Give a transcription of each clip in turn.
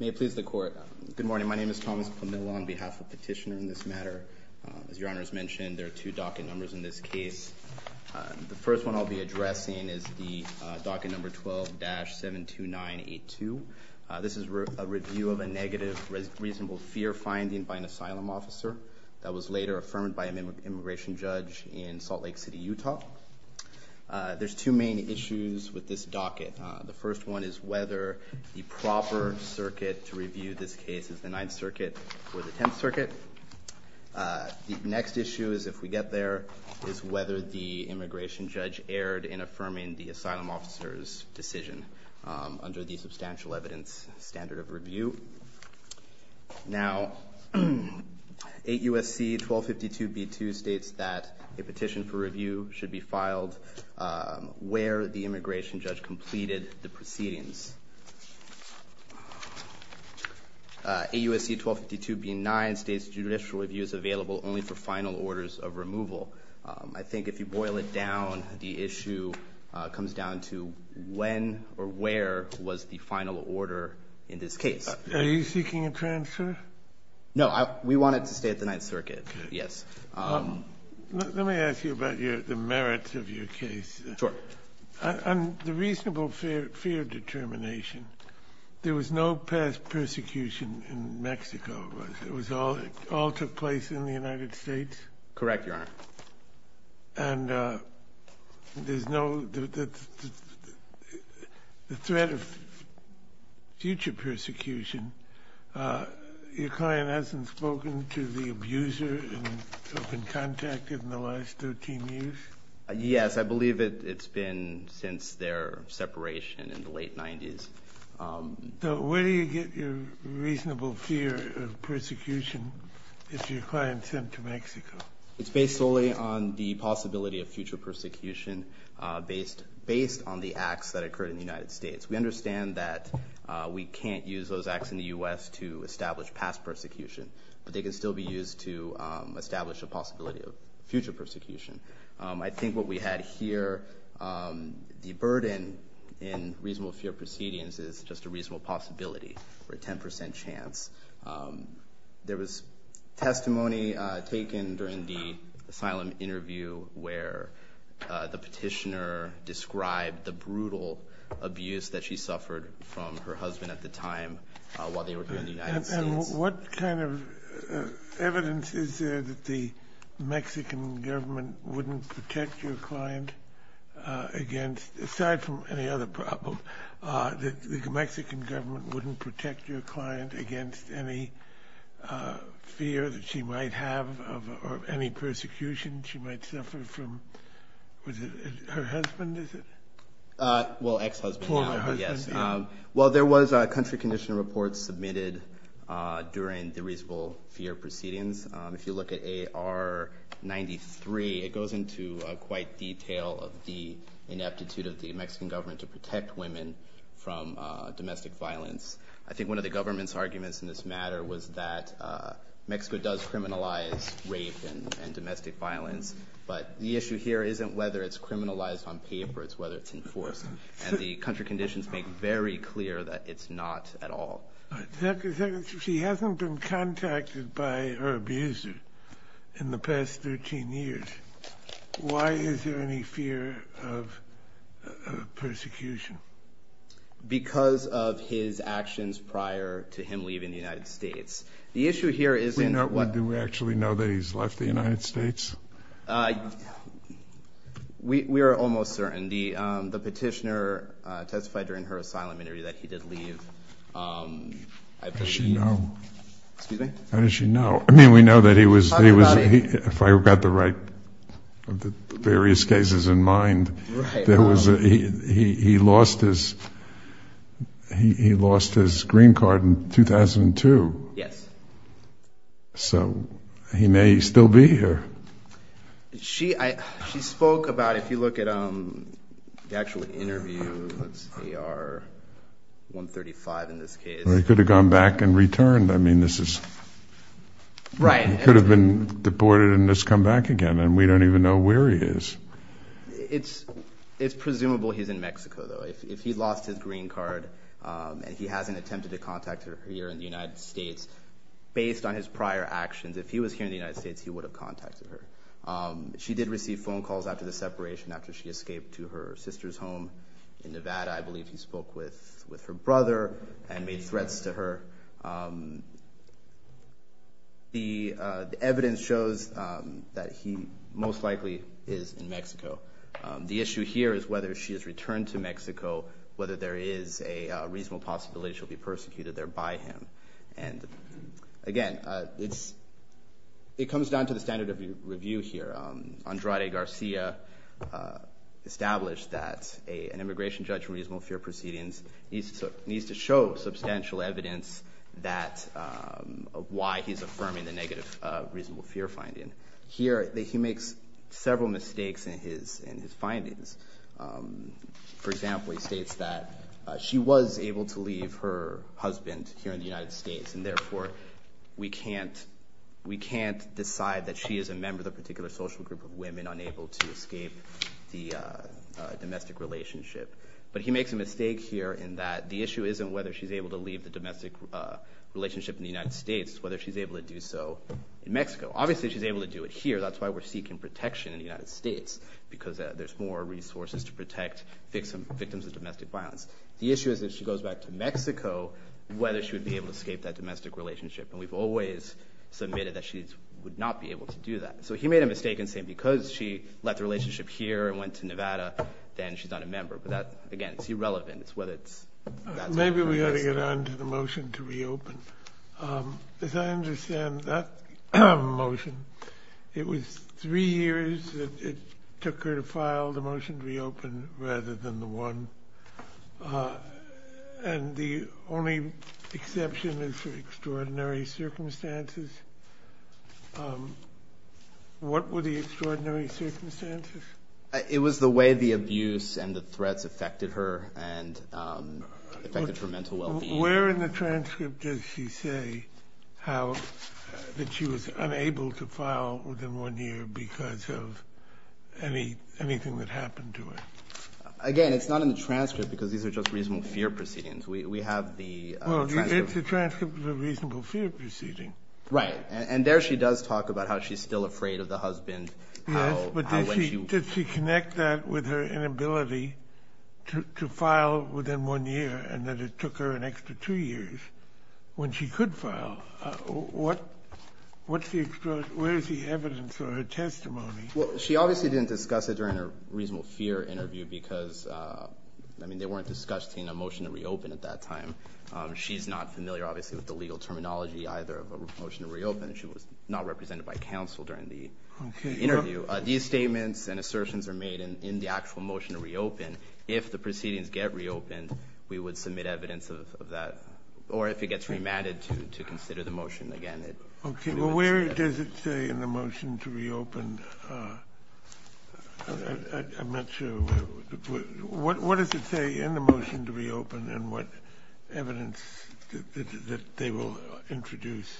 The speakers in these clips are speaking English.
May it please the court. Good morning. My name is Thomas Pamela on behalf of Petitioner in this matter. As your honors mentioned, there are two docket numbers in this case. The first one I'll be addressing is the docket number 12-72982. This is a review of a negative reasonable fear finding by an asylum officer that was later affirmed by an immigration judge in Salt Lake City, Utah. There's two main issues with this docket. The first one is whether the proper circuit to review this case is the Ninth Circuit or the Tenth Circuit. The next issue is, if we get there, is whether the immigration judge erred in affirming the asylum officer's decision under the substantial evidence standard of review. Now, 8 U.S.C. 1252b2 states that a petition for review should be filed where the immigration judge completed the proceedings. 8 U.S.C. 1252b9 states judicial review is available only for final orders of removal. I think if you boil it down, the issue comes down to when or where was the final order in this case. Are you seeking a transfer? No, we wanted to stay at the Ninth Circuit, yes. Let me ask you about the merits of your case. Sure. And the reasonable fear determination. There was no past persecution in Mexico, was there? It all took place in the United States? Correct, Your Honor. And the threat of future persecution, your client hasn't spoken to the abuser in open contact in the last 13 years? Yes, I believe it's been since their separation in the late 90s. So where do you get your reasonable fear of persecution if your client's sent to Mexico? It's based solely on the possibility of future persecution based on the acts that occurred in the United States. We understand that we can't use those acts in the U.S. to establish past persecution, but they can still be used to establish a The burden in reasonable fear proceedings is just a reasonable possibility for a 10% chance. There was testimony taken during the asylum interview where the petitioner described the brutal abuse that she suffered from her husband at the time while they were here in the United States. And what kind of evidence is there that the Mexican government wouldn't protect your client against, aside from any other problem, that the Mexican government wouldn't protect your client against any fear that she might have of any persecution she might suffer from? Was it her husband, is it? Well, ex-husband. Well, there was a country condition report submitted during the ineptitude of the Mexican government to protect women from domestic violence. I think one of the government's arguments in this matter was that Mexico does criminalize rape and domestic violence, but the issue here isn't whether it's criminalized on paper, it's whether it's enforced. And the country conditions make very clear that it's not at all. She hasn't been contacted by her abuser in the past 13 years. Why is there any fear of persecution? Because of his actions prior to him leaving the United States. The issue here isn't... Do we actually know that he's left the United States? We are almost certain. The petitioner testified during her asylum interview that he did leave. How does she know? Excuse me? How does she know? I mean, we know that he was, if I got the right of the various cases in mind, he lost his green card in 2002. Yes. So he may still be here. She spoke about, if you look at the actual interview, 135 in this case. He could have gone back and returned. I mean, this is... Right. He could have been deported and just come back again, and we don't even know where he is. It's, it's presumable he's in Mexico though. If he lost his green card and he hasn't attempted to contact her here in the United States, based on his prior actions, if he was here in the United States, he would have contacted her. She did receive phone calls after the separation, after she escaped to her sister's home in Nevada. I believe he spoke with her brother and made threats to her. The evidence shows that he most likely is in Mexico. The issue here is whether she has returned to Mexico, whether there is a reasonable possibility she'll be persecuted there by him. And again, it's, it comes down to the standard of review here. Andrade Garcia established that an immigration judge in reasonable fear proceedings needs to show substantial evidence that, of why he's affirming the negative reasonable fear finding. Here, he makes several mistakes in his findings. For example, he states that she was able to leave her husband here in the United States, and therefore we can't, we can't decide that she is a member of the particular social group of women unable to escape the domestic relationship. But he makes a mistake here in that the issue isn't whether she's able to leave the domestic relationship in the United States, whether she's able to do so in Mexico. Obviously, she's able to do it here. That's why we're seeking protection in the United States, because there's more resources to protect victims of domestic violence. The issue is, if she goes back to Mexico, whether she would be able to escape that domestic relationship. And we've always submitted that she would not be able to do that. So he made a mistake in saying because she left the relationship here and went to Nevada, then she's not a member. But that, again, it's irrelevant. It's whether it's... Maybe we ought to get on to the motion to reopen. As I understand that motion, it was three years that it took her to file the motion to reopen rather than the one. And the only exception is for extraordinary circumstances. What were the extraordinary circumstances? It was the way the abuse and the threats affected her and affected her mental well-being. Where in the transcript does she say how that she was unable to file within one year because of anything that happened to her? Again, it's not in the transcript because these are just reasonable fear proceedings. We have the... Well, it's a transcript of a reasonable fear proceeding. Right. And there she does talk about how she's still afraid of the husband. Yes, but did she connect that with her inability to file within one year and that it took her an year? Where is the evidence or her testimony? Well, she obviously didn't discuss it during a reasonable fear interview because they weren't discussing a motion to reopen at that time. She's not familiar, obviously, with the legal terminology either of a motion to reopen. She was not represented by counsel during the interview. These statements and assertions are made in the actual motion to reopen. If the proceedings get reopened, we would submit evidence of that or if it gets remanded to consider the motion again. Okay. Well, where does it say in the motion to reopen? I'm not sure. What does it say in the motion to reopen and what evidence that they will introduce?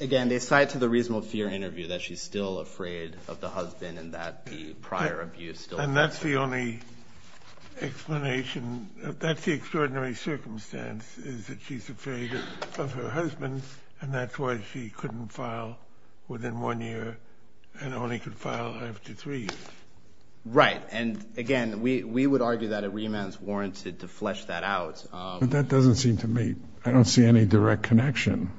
Again, they cite to the reasonable fear interview that she's still afraid of the husband and that the prior abuse still... And that's the only explanation. That's the extraordinary circumstance is that she's afraid of her husband and that's why she couldn't file within one year and only could file after three years. Right. And again, we would argue that a remand is warranted to flesh that out. But that doesn't seem to me. I don't see any direct connection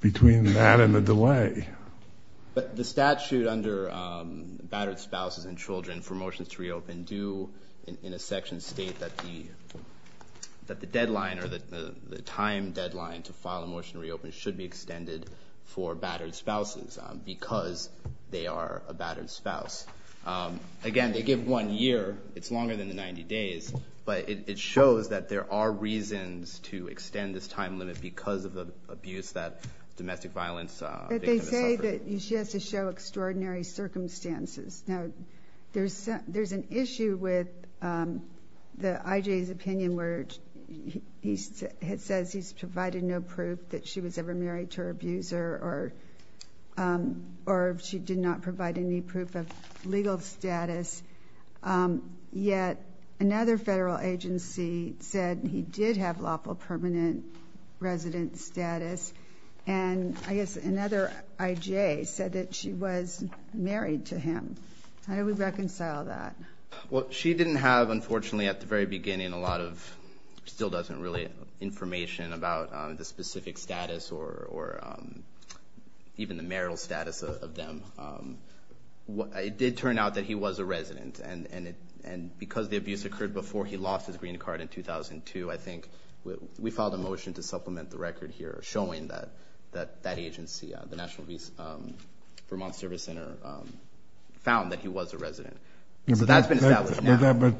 between that and the delay. But the statute under battered spouses and children for motions to reopen do in a section state that the deadline or the time deadline to file a motion to reopen should be extended for battered spouses because they are a battered spouse. Again, they give one year. It's longer than the 90 days, but it shows that there are reasons to extend this time limit because of the abuse that domestic violence victim has suffered. But they say that she has to show extraordinary circumstances. Now, there's an issue with the IJ's opinion where he says he's provided no proof that she was ever married to her abuser or she did not provide any proof of legal status. Yet, another federal agency said he did have lawful permanent resident status. And I guess another IJ said that she was married to him. How do we reconcile that? Well, she didn't have, unfortunately, at the very beginning, a lot of still doesn't really information about the specific status or even the marital status of them. It did turn out that he was a resident. And because the abuse occurred before he lost his green card in 2002, I think we filed a motion to supplement the record here showing that that that agency, the National Vermont Service Center, found that he was a resident. So that's been established now. But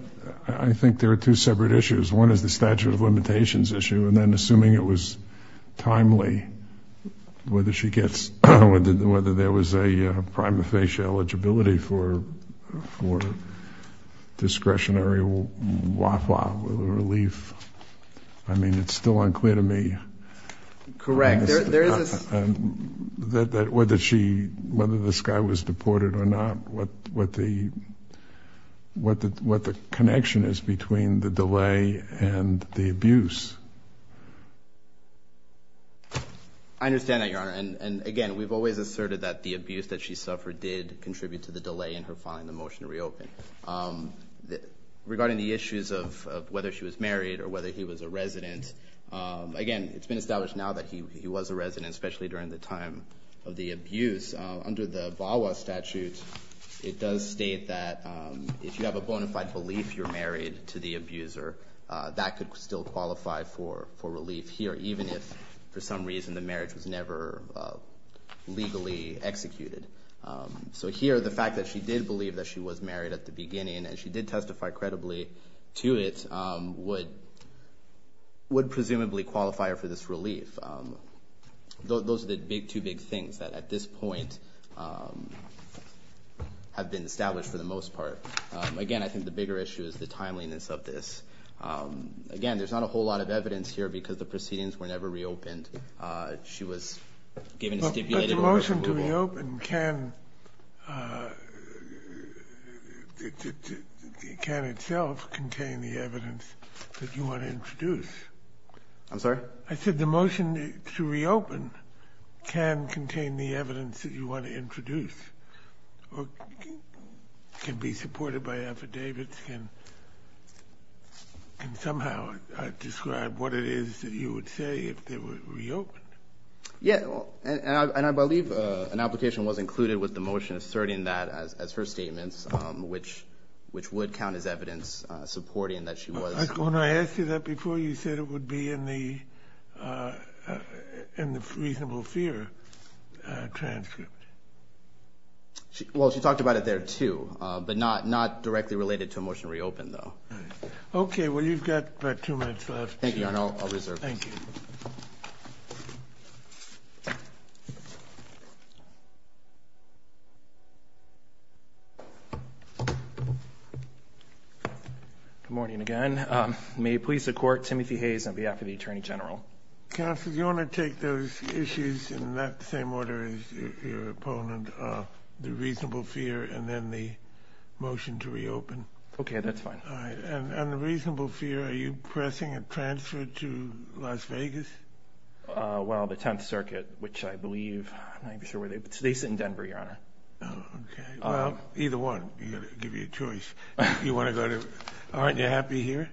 I think there are two separate issues. One is the statute of limitations issue. And then assuming it was timely, whether she gets whether there was a prima facie eligibility for discretionary relief. I mean, it's still unclear to me correct that whether she whether this guy was deported or not, what what the what the what the connection is between the delay and the abuse. I understand that, Your Honor. And again, we've always asserted that the abuse that she suffered did contribute to the delay in her filing the motion to reopen regarding the issues of whether she was married or whether he was a resident. Again, it's been established now that he was a resident, especially during the time of the abuse. Under the VAWA statute, it does state that if you have a bona fide belief you're married to the abuser, that could still qualify for for relief here, even if for some reason the marriage was never legally executed. So here, the fact that she did believe that she was married at the beginning, and she did testify credibly to it, would presumably qualify her for this relief. Those are the two big things that at this point have been established for the most part. Again, I think the bigger issue is the timeliness of this. Again, there's not a whole lot of evidence here because the proceedings were never reopened. She was given a stipulated... But the motion to reopen can itself contain the evidence that you want to introduce. I'm sorry? I said the motion to reopen can contain the evidence that you want to introduce, or can be supported by affidavits, can somehow describe what it is that you would say if there were to be reopened. Yeah, and I believe an application was included with the motion asserting that as her statements, which would count as evidence supporting that she was... When I asked you that before, you said it would be in the reasonable fear transcript. Well, she talked about it there, too, but not directly related to a motion to reopen, though. Okay, well, you've got about two minutes left. Thank you, Your Honor. I'll reserve this. Thank you. Good morning again. May it please the Court, Timothy Hayes on behalf of the Attorney General. Counsel, do you want to take those issues in that same order as your opponent, the reasonable fear and then the motion to reopen? Okay, that's fine. And the reasonable fear, are you pressing a transfer to Las Vegas? Well, the Tenth Circuit, which I believe... I'm not even sure where they... They sit in Denver, Your Honor. Oh, okay. Well, either one. You've got to give you a choice. You want to go to... Aren't you happy here?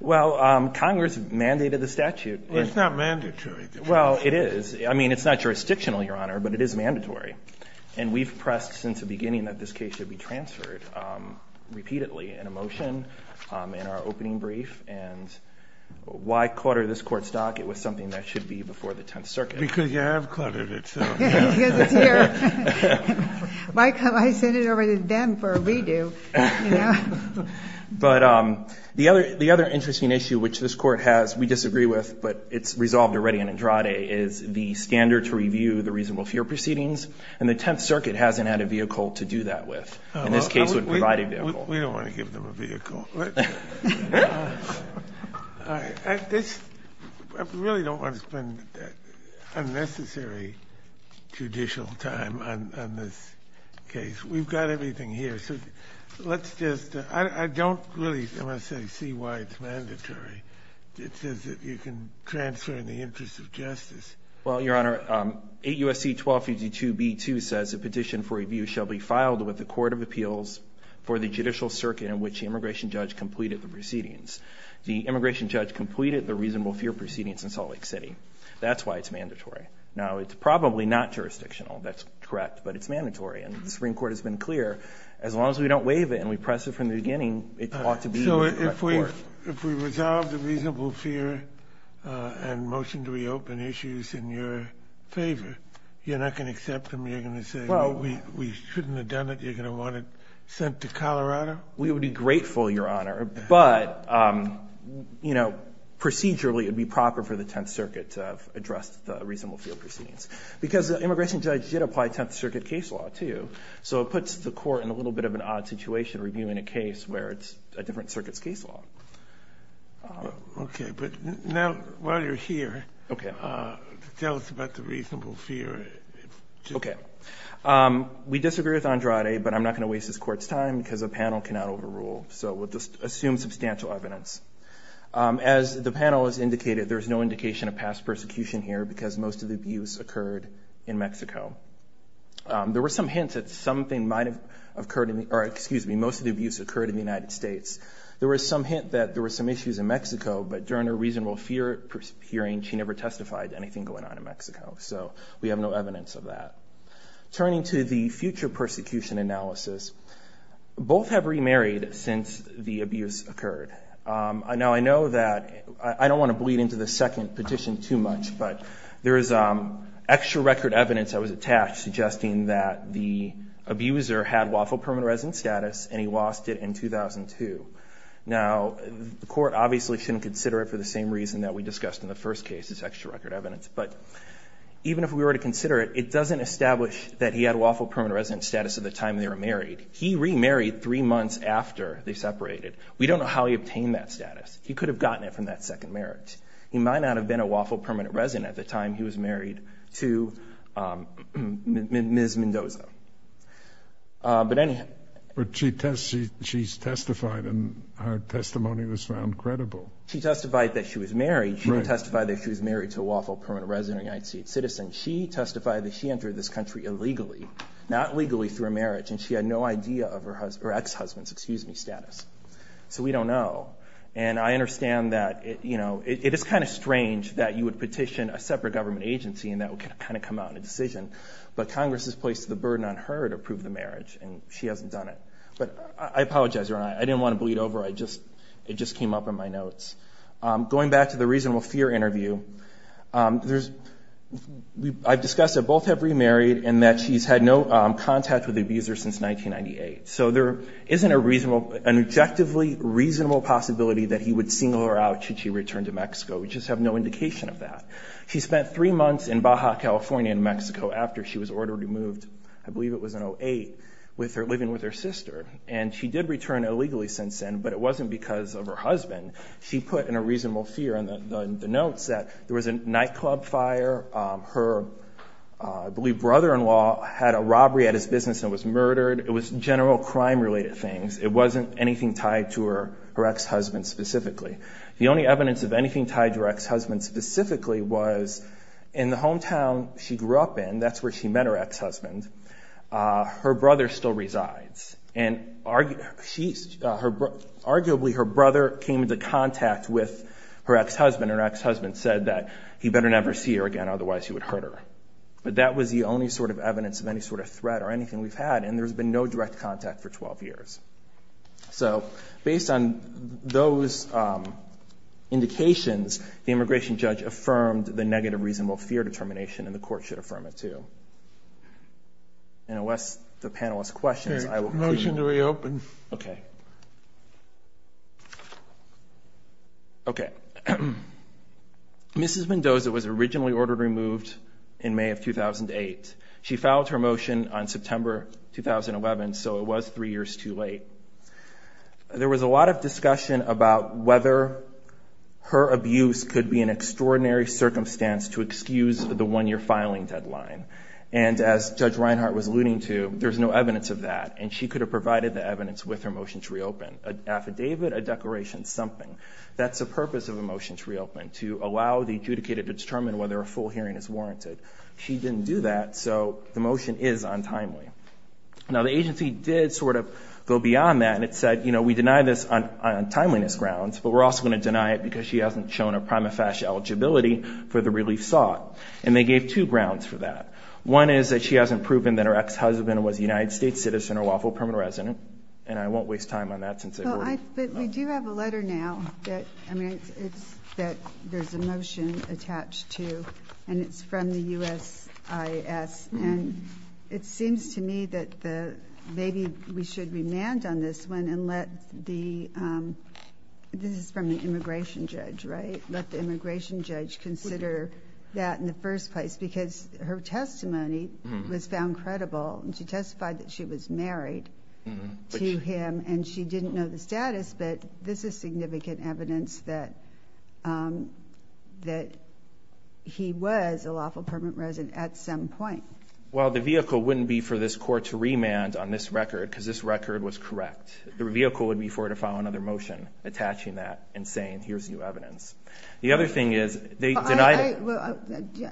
Well, Congress mandated the statute. It's not mandatory. Well, it is. I mean, it's not jurisdictional, Your Honor, but it is mandatory. And we've pressed since the beginning that this case should be transferred repeatedly in a motion in our opening brief. And why clutter this Court's dock? It was something that should be before the Tenth Circuit. Because you have cluttered it, so... Yeah, because it's here. Why send it over to them for a redo, you know? But the other interesting issue which this Court has, we disagree with, but it's resolved already in Andrade, is the standard to review the reasonable fear proceedings. And the Tenth Circuit hasn't had a vehicle to do that with. In this case, it would provide a vehicle. We don't want to give them a vehicle. All right. I really don't want to spend unnecessary judicial time on this case. We've got everything here. So let's just... I don't really, I must say, see why it's mandatory. It says that you can transfer in the interest of justice. Well, Your Honor, 8 U.S.C. 1252b2 says, a petition for review shall be filed with the Court of Appeals for the judicial circuit in which the immigration judge completed the proceedings. The immigration judge completed the reasonable fear proceedings in Salt Lake City. That's why it's mandatory. Now, it's probably not jurisdictional. That's correct, but it's mandatory. And the Supreme Court has been clear, as long as we don't waive it and we press it from the beginning, it ought to be... If we resolve the reasonable fear and motion to reopen issues in your favor, you're not going to accept them? You're going to say, well, we shouldn't have done it. You're going to want it sent to Colorado? We would be grateful, Your Honor. But procedurally, it would be proper for the Tenth Circuit to have addressed the reasonable fear proceedings. Because the immigration judge did apply Tenth Circuit case law, too. So it puts the court in a little bit of an odd situation reviewing a case where it's a different circuit's case law. Okay. But now, while you're here, tell us about the reasonable fear. Okay. We disagree with Andrade, but I'm not going to waste this Court's time because a panel cannot overrule. So we'll just assume substantial evidence. As the panel has indicated, there's no indication of past persecution here because most of the abuse occurred in Mexico. There were some hints that something might have occurred in the... Excuse me. Most of the abuse occurred in the United States. There was some hint that there were some issues in Mexico, but during a reasonable fear hearing, she never testified anything going on in Mexico. So we have no evidence of that. Turning to the future persecution analysis, both have remarried since the abuse occurred. Now, I know that... I don't want to bleed into the second petition too much, but there is extra record evidence that was attached suggesting that the abuser had Waffle Permanent Resident status, and he lost it in 2002. Now, the Court obviously shouldn't consider it for the same reason that we discussed in the first case, this extra record evidence. But even if we were to consider it, it doesn't establish that he had Waffle Permanent Resident status at the time they were married. He remarried three months after they separated. We don't know how he obtained that status. He could have gotten it from that second marriage. He might not have been a Waffle Permanent Resident at the time he was married to Ms. Mendoza. But anyhow... But she testified, and her testimony was found credible. She testified that she was married. She didn't testify that she was married to a Waffle Permanent Resident United States citizen. She testified that she entered this country illegally, not legally through a marriage, and she had no idea of her ex-husband's, excuse me, status. So we don't know. And I understand that, you know, it is kind of strange that you would petition a separate government agency and that would kind of come out in a decision. But Congress has placed the burden on her to prove the marriage, and she hasn't done it. But I apologize. I didn't want to bleed over. It just came up in my notes. Going back to the reasonable fear interview, I've discussed that both have remarried and that she's had no contact with the abuser since 1998. So there isn't an objectively reasonable possibility that he would single her out should she return to Mexico. We just have no indication of that. She spent three months in Baja, California, in Mexico after she was ordered to move, I believe it was in 08, living with her sister. And she did return illegally since then, but it wasn't because of her husband. She put in a reasonable fear in the notes that there was a nightclub fire. Her, I believe, brother-in-law had a robbery at his business and was murdered. It was general crime-related things. It wasn't anything tied to her ex-husband specifically. The only evidence of anything tied to her ex-husband specifically was in the hometown she grew up in, that's where she met her ex-husband, her brother still resides. And arguably, her brother came into contact with her ex-husband. Her ex-husband said that he better never see her again, otherwise he would hurt her. But that was the only sort of evidence of any sort of threat or anything we've had. And there's been no direct contact for 12 years. So, based on those indications, the immigration judge affirmed the negative reasonable fear determination and the court should affirm it too. And unless the panel has questions, I will- Motion to reopen. Okay. Okay. Mrs. Mendoza was originally ordered removed in May of 2008. She filed her motion on September, 2011, so it was three years too late. There was a lot of discussion about whether her abuse could be an extraordinary circumstance to excuse the one-year filing deadline. And as Judge Reinhart was alluding to, there's no evidence of that. And she could have provided the evidence with her motion to reopen. An affidavit, a declaration, something. That's the purpose of a motion to reopen, to allow the adjudicator to determine whether a full hearing is warranted. She didn't do that, so the motion is untimely. Now, the agency did sort of go beyond that and it said, you know, we deny this on timeliness grounds, but we're also going to deny it because she hasn't shown a prima facie eligibility for the relief sought. And they gave two grounds for that. One is that she hasn't proven that her ex-husband was a United States citizen or lawful permanent resident. And I won't waste time on that since- Well, I, but we do have a letter now that, I mean, it's that there's a motion attached to, and it's from the USIS. And it seems to me that maybe we should remand on this one and let the, this is from the immigration judge, right? Let the immigration judge consider that in the first place because her testimony was found credible. And she testified that she was married to him and she didn't know the status, but this is significant evidence that he was a lawful permanent resident at some point. Well, the vehicle wouldn't be for this court to remand on this record because this record was correct. The vehicle would be for her to file another motion attaching that and saying, here's new evidence. The other thing is they denied- Well,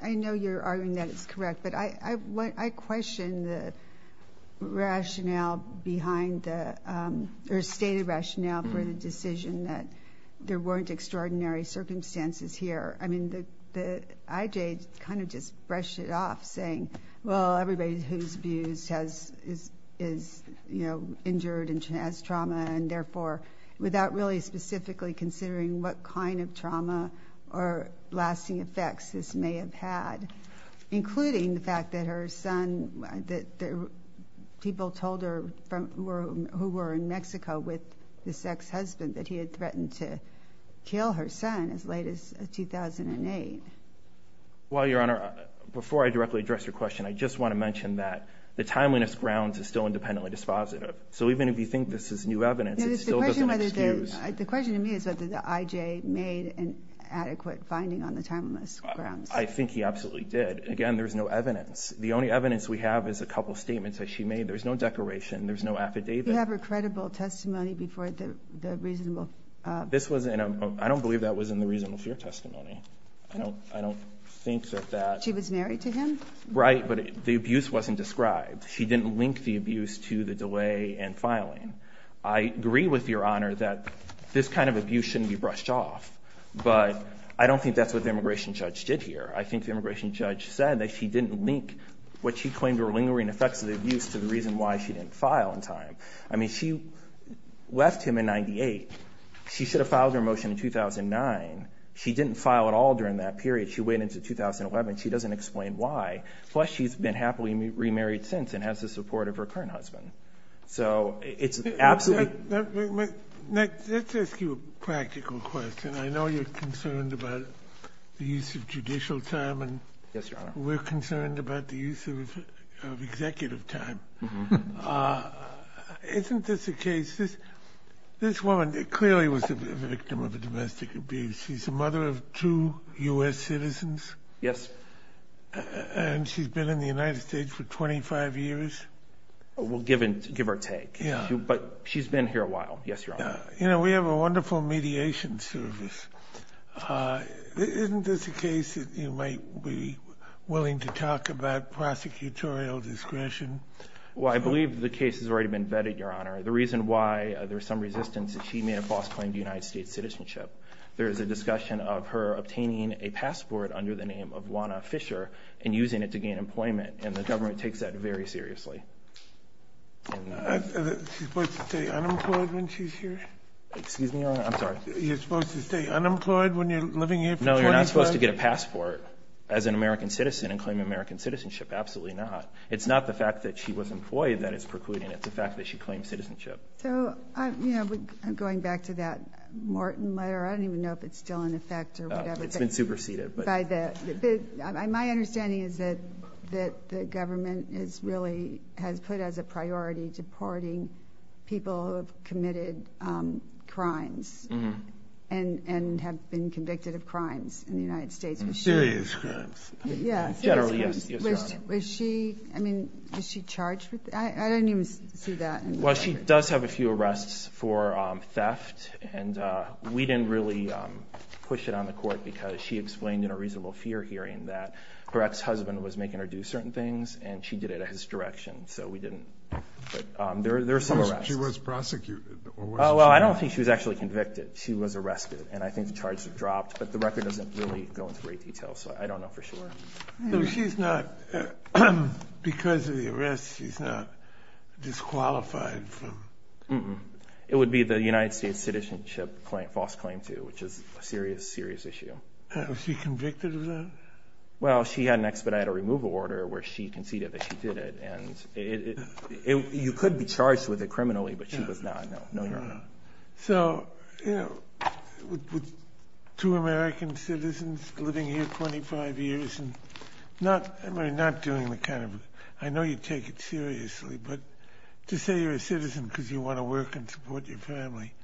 I know you're arguing that it's correct, but I question the rationale behind the, or stated rationale for the decision that there weren't extraordinary circumstances here. I mean, the IJ kind of just brushed it off saying, well, everybody who's abused has, is, you know, injured and has trauma. And therefore, without really specifically considering what kind of trauma or lasting effects this may have had, including the fact that her son, that people told her who were in Mexico with this ex-husband that he had threatened to kill her son as late as 2008. Well, Your Honor, before I directly address your question, I just want to mention that the timeliness grounds is still independently dispositive. So even if you think this is new evidence, it still doesn't excuse- The question to me is whether the IJ made an adequate finding on the timeliness grounds. I think he absolutely did. Again, there's no evidence. The only evidence we have is a couple of statements that she made. There's no declaration. There's no affidavit. You have her credible testimony before the reasonable- I don't believe that was in the reasonable fear testimony. I don't think that that- She was married to him? Right, but the abuse wasn't described. She didn't link the abuse to the delay and filing. I agree with Your Honor that this kind of abuse shouldn't be brushed off. But I don't think that's what the immigration judge did here. I think the immigration judge said that she didn't link what she claimed were lingering effects of the abuse to the reason why she didn't file in time. I mean, she left him in 98. She should have filed her motion in 2009. She didn't file at all during that period. She went into 2011. She doesn't explain why. Plus, she's been happily remarried since and has the support of her current husband. So it's absolutely- Nick, let's ask you a practical question. I know you're concerned about the use of judicial time. Yes, Your Honor. We're concerned about the use of executive time. Isn't this a case- This woman clearly was a victim of domestic abuse. She's the mother of two U.S. citizens. Yes. And she's been in the United States for 25 years. We'll give her a take. Yeah. But she's been here a while. Yes, Your Honor. You know, we have a wonderful mediation service. Isn't this a case that you might be willing to talk about prosecutorial discretion? Well, I believe the case has already been vetted, Your Honor. The reason why there's some resistance is she made a false claim to United States citizenship. There is a discussion of her obtaining a passport under the name of Juana Fisher and using it to gain employment. And the government takes that very seriously. Is she supposed to stay unemployed when she's here? Excuse me, Your Honor. I'm sorry. You're supposed to stay unemployed when you're living here for 25 years? No, you're not supposed to get a passport as an American citizen and claim American citizenship. Absolutely not. It's not the fact that she was employed that is precluding. It's the fact that she claimed citizenship. So, you know, going back to that Morton letter, I don't even know if it's still in effect or whatever. It's been superseded. My understanding is that the government is really has put as a priority deporting people who have committed crimes and have been convicted of crimes in the United States. Serious crimes. Yes. Generally, yes, Your Honor. Was she, I mean, was she charged with it? I didn't even see that. Well, she does have a few arrests for theft. And we didn't really push it on the court because she explained in a reasonable fear hearing that her ex-husband was making her do certain things and she did it at his direction. So we didn't. But there are some arrests. She was prosecuted? Well, I don't think she was actually convicted. She was arrested. And I think the charges are dropped, but the record doesn't really go into great detail. So I don't know for sure. She's not, because of the arrest, she's not disqualified from. It would be the United States citizenship false claim to, which is a serious, serious issue. Was she convicted of that? Well, she had an expedited removal order where she conceded that she did it. And you could be charged with it criminally, but she was not, no, no, Your Honor. So, you know, with two American citizens living here 25 years and not doing the kind of, I know you take it seriously, but to say you're a citizen because you want to work and support your family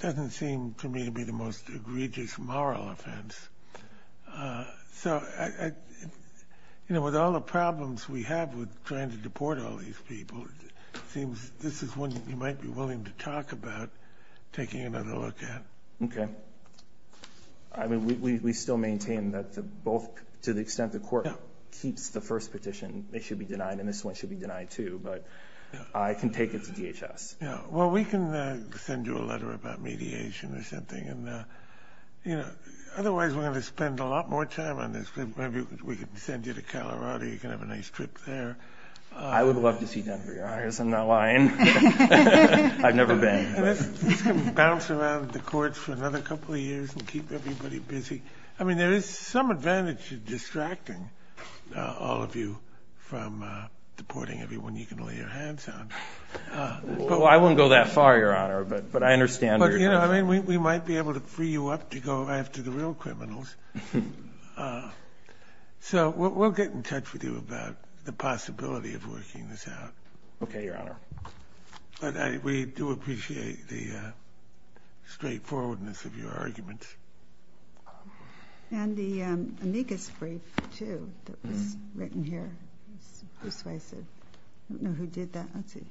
doesn't seem to me to be the most egregious moral offense. So, you know, with all the problems we have with trying to deport all these people, it seems this is one you might be willing to talk about taking another look at. Okay. I mean, we still maintain that the both, to the extent the court keeps the first petition, they should be denied. And this one should be denied too, but I can take it to DHS. Yeah. Well, we can send you a letter about mediation or something. And, you know, otherwise, we're going to spend a lot more time on this. Maybe we could send you to Colorado. You can have a nice trip there. I would love to see Denver, Your Honor, because I'm not lying. I've never been. And this can bounce around the courts for another couple of years and keep everybody busy. I mean, there is some advantage to distracting all of you from deporting everyone you can lay your hands on. I wouldn't go that far, Your Honor, but I understand where you're coming from. I mean, we might be able to free you up to go after the real criminals. So we'll get in touch with you about the possibility of working this out. Okay, Your Honor. But we do appreciate the straightforwardness of your arguments. And the amicus brief, too, that was written here. I don't know who did that. Let's see.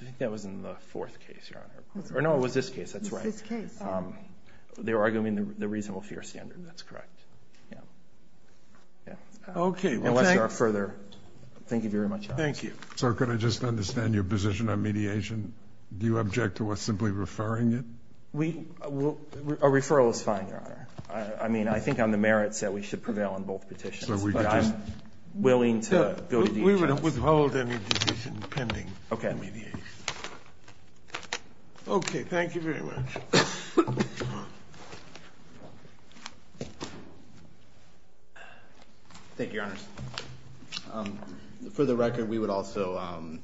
I think that was in the fourth case, Your Honor. Or no, it was this case. That's right. They were arguing the reasonable fear standard. That's correct. Yeah. Yeah. Okay. Unless there are further... Thank you very much. Thank you. So could I just understand your position on mediation? Do you object to us simply referring it? We... Our referral is fine, Your Honor. I mean, I think on the merits that we should prevail on both petitions. But I'm willing to go to the defense. We would withhold any decision pending. Okay. Okay, thank you very much. Thank you, Your Honors. For the record, we would also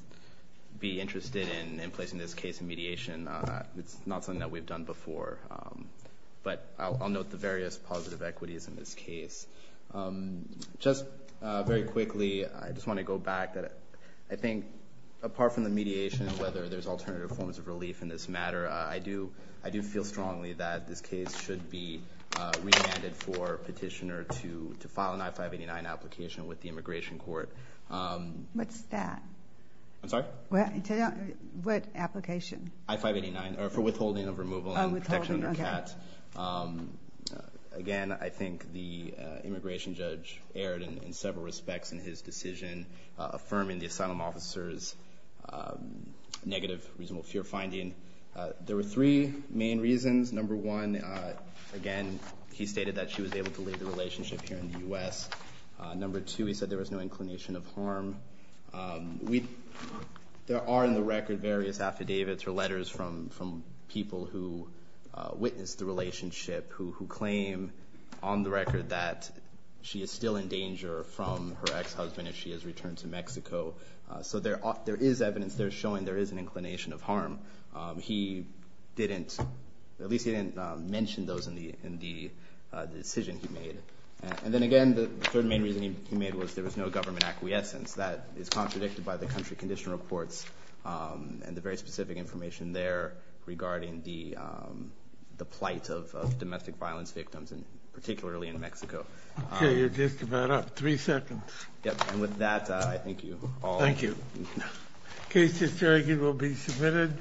be interested in placing this case in mediation. It's not something that we've done before. But I'll note the various positive equities in this case. Just very quickly, I just want to go back. I think apart from the mediation, whether there's alternative forms of relief in this matter, I do feel strongly that this case should be remanded for petitioner to file an I-589 application with the immigration court. What's that? I'm sorry? What application? I-589 for withholding of removal and protection under CAT. Again, I think the immigration judge erred in several respects in his decision affirming the asylum officer's negative reasonable fear finding. There were three main reasons. Number one, again, he stated that she was able to leave the relationship here in the U.S. Number two, he said there was no inclination of harm. There are in the record various affidavits or letters from people who witnessed the relationship who claim on the record that she is still in danger from her ex-husband if she has returned to Mexico. So there is evidence there showing there is an inclination of harm. He didn't, at least he didn't mention those in the decision he made. And then again, the third main reason he made was there was no government acquiescence. That is contradicted by the country condition reports and the very specific information there regarding the plight of domestic violence victims and particularly in Mexico. Okay, you're just about up. Three seconds. Yep, and with that, I thank you all. Thank you. Case history will be submitted.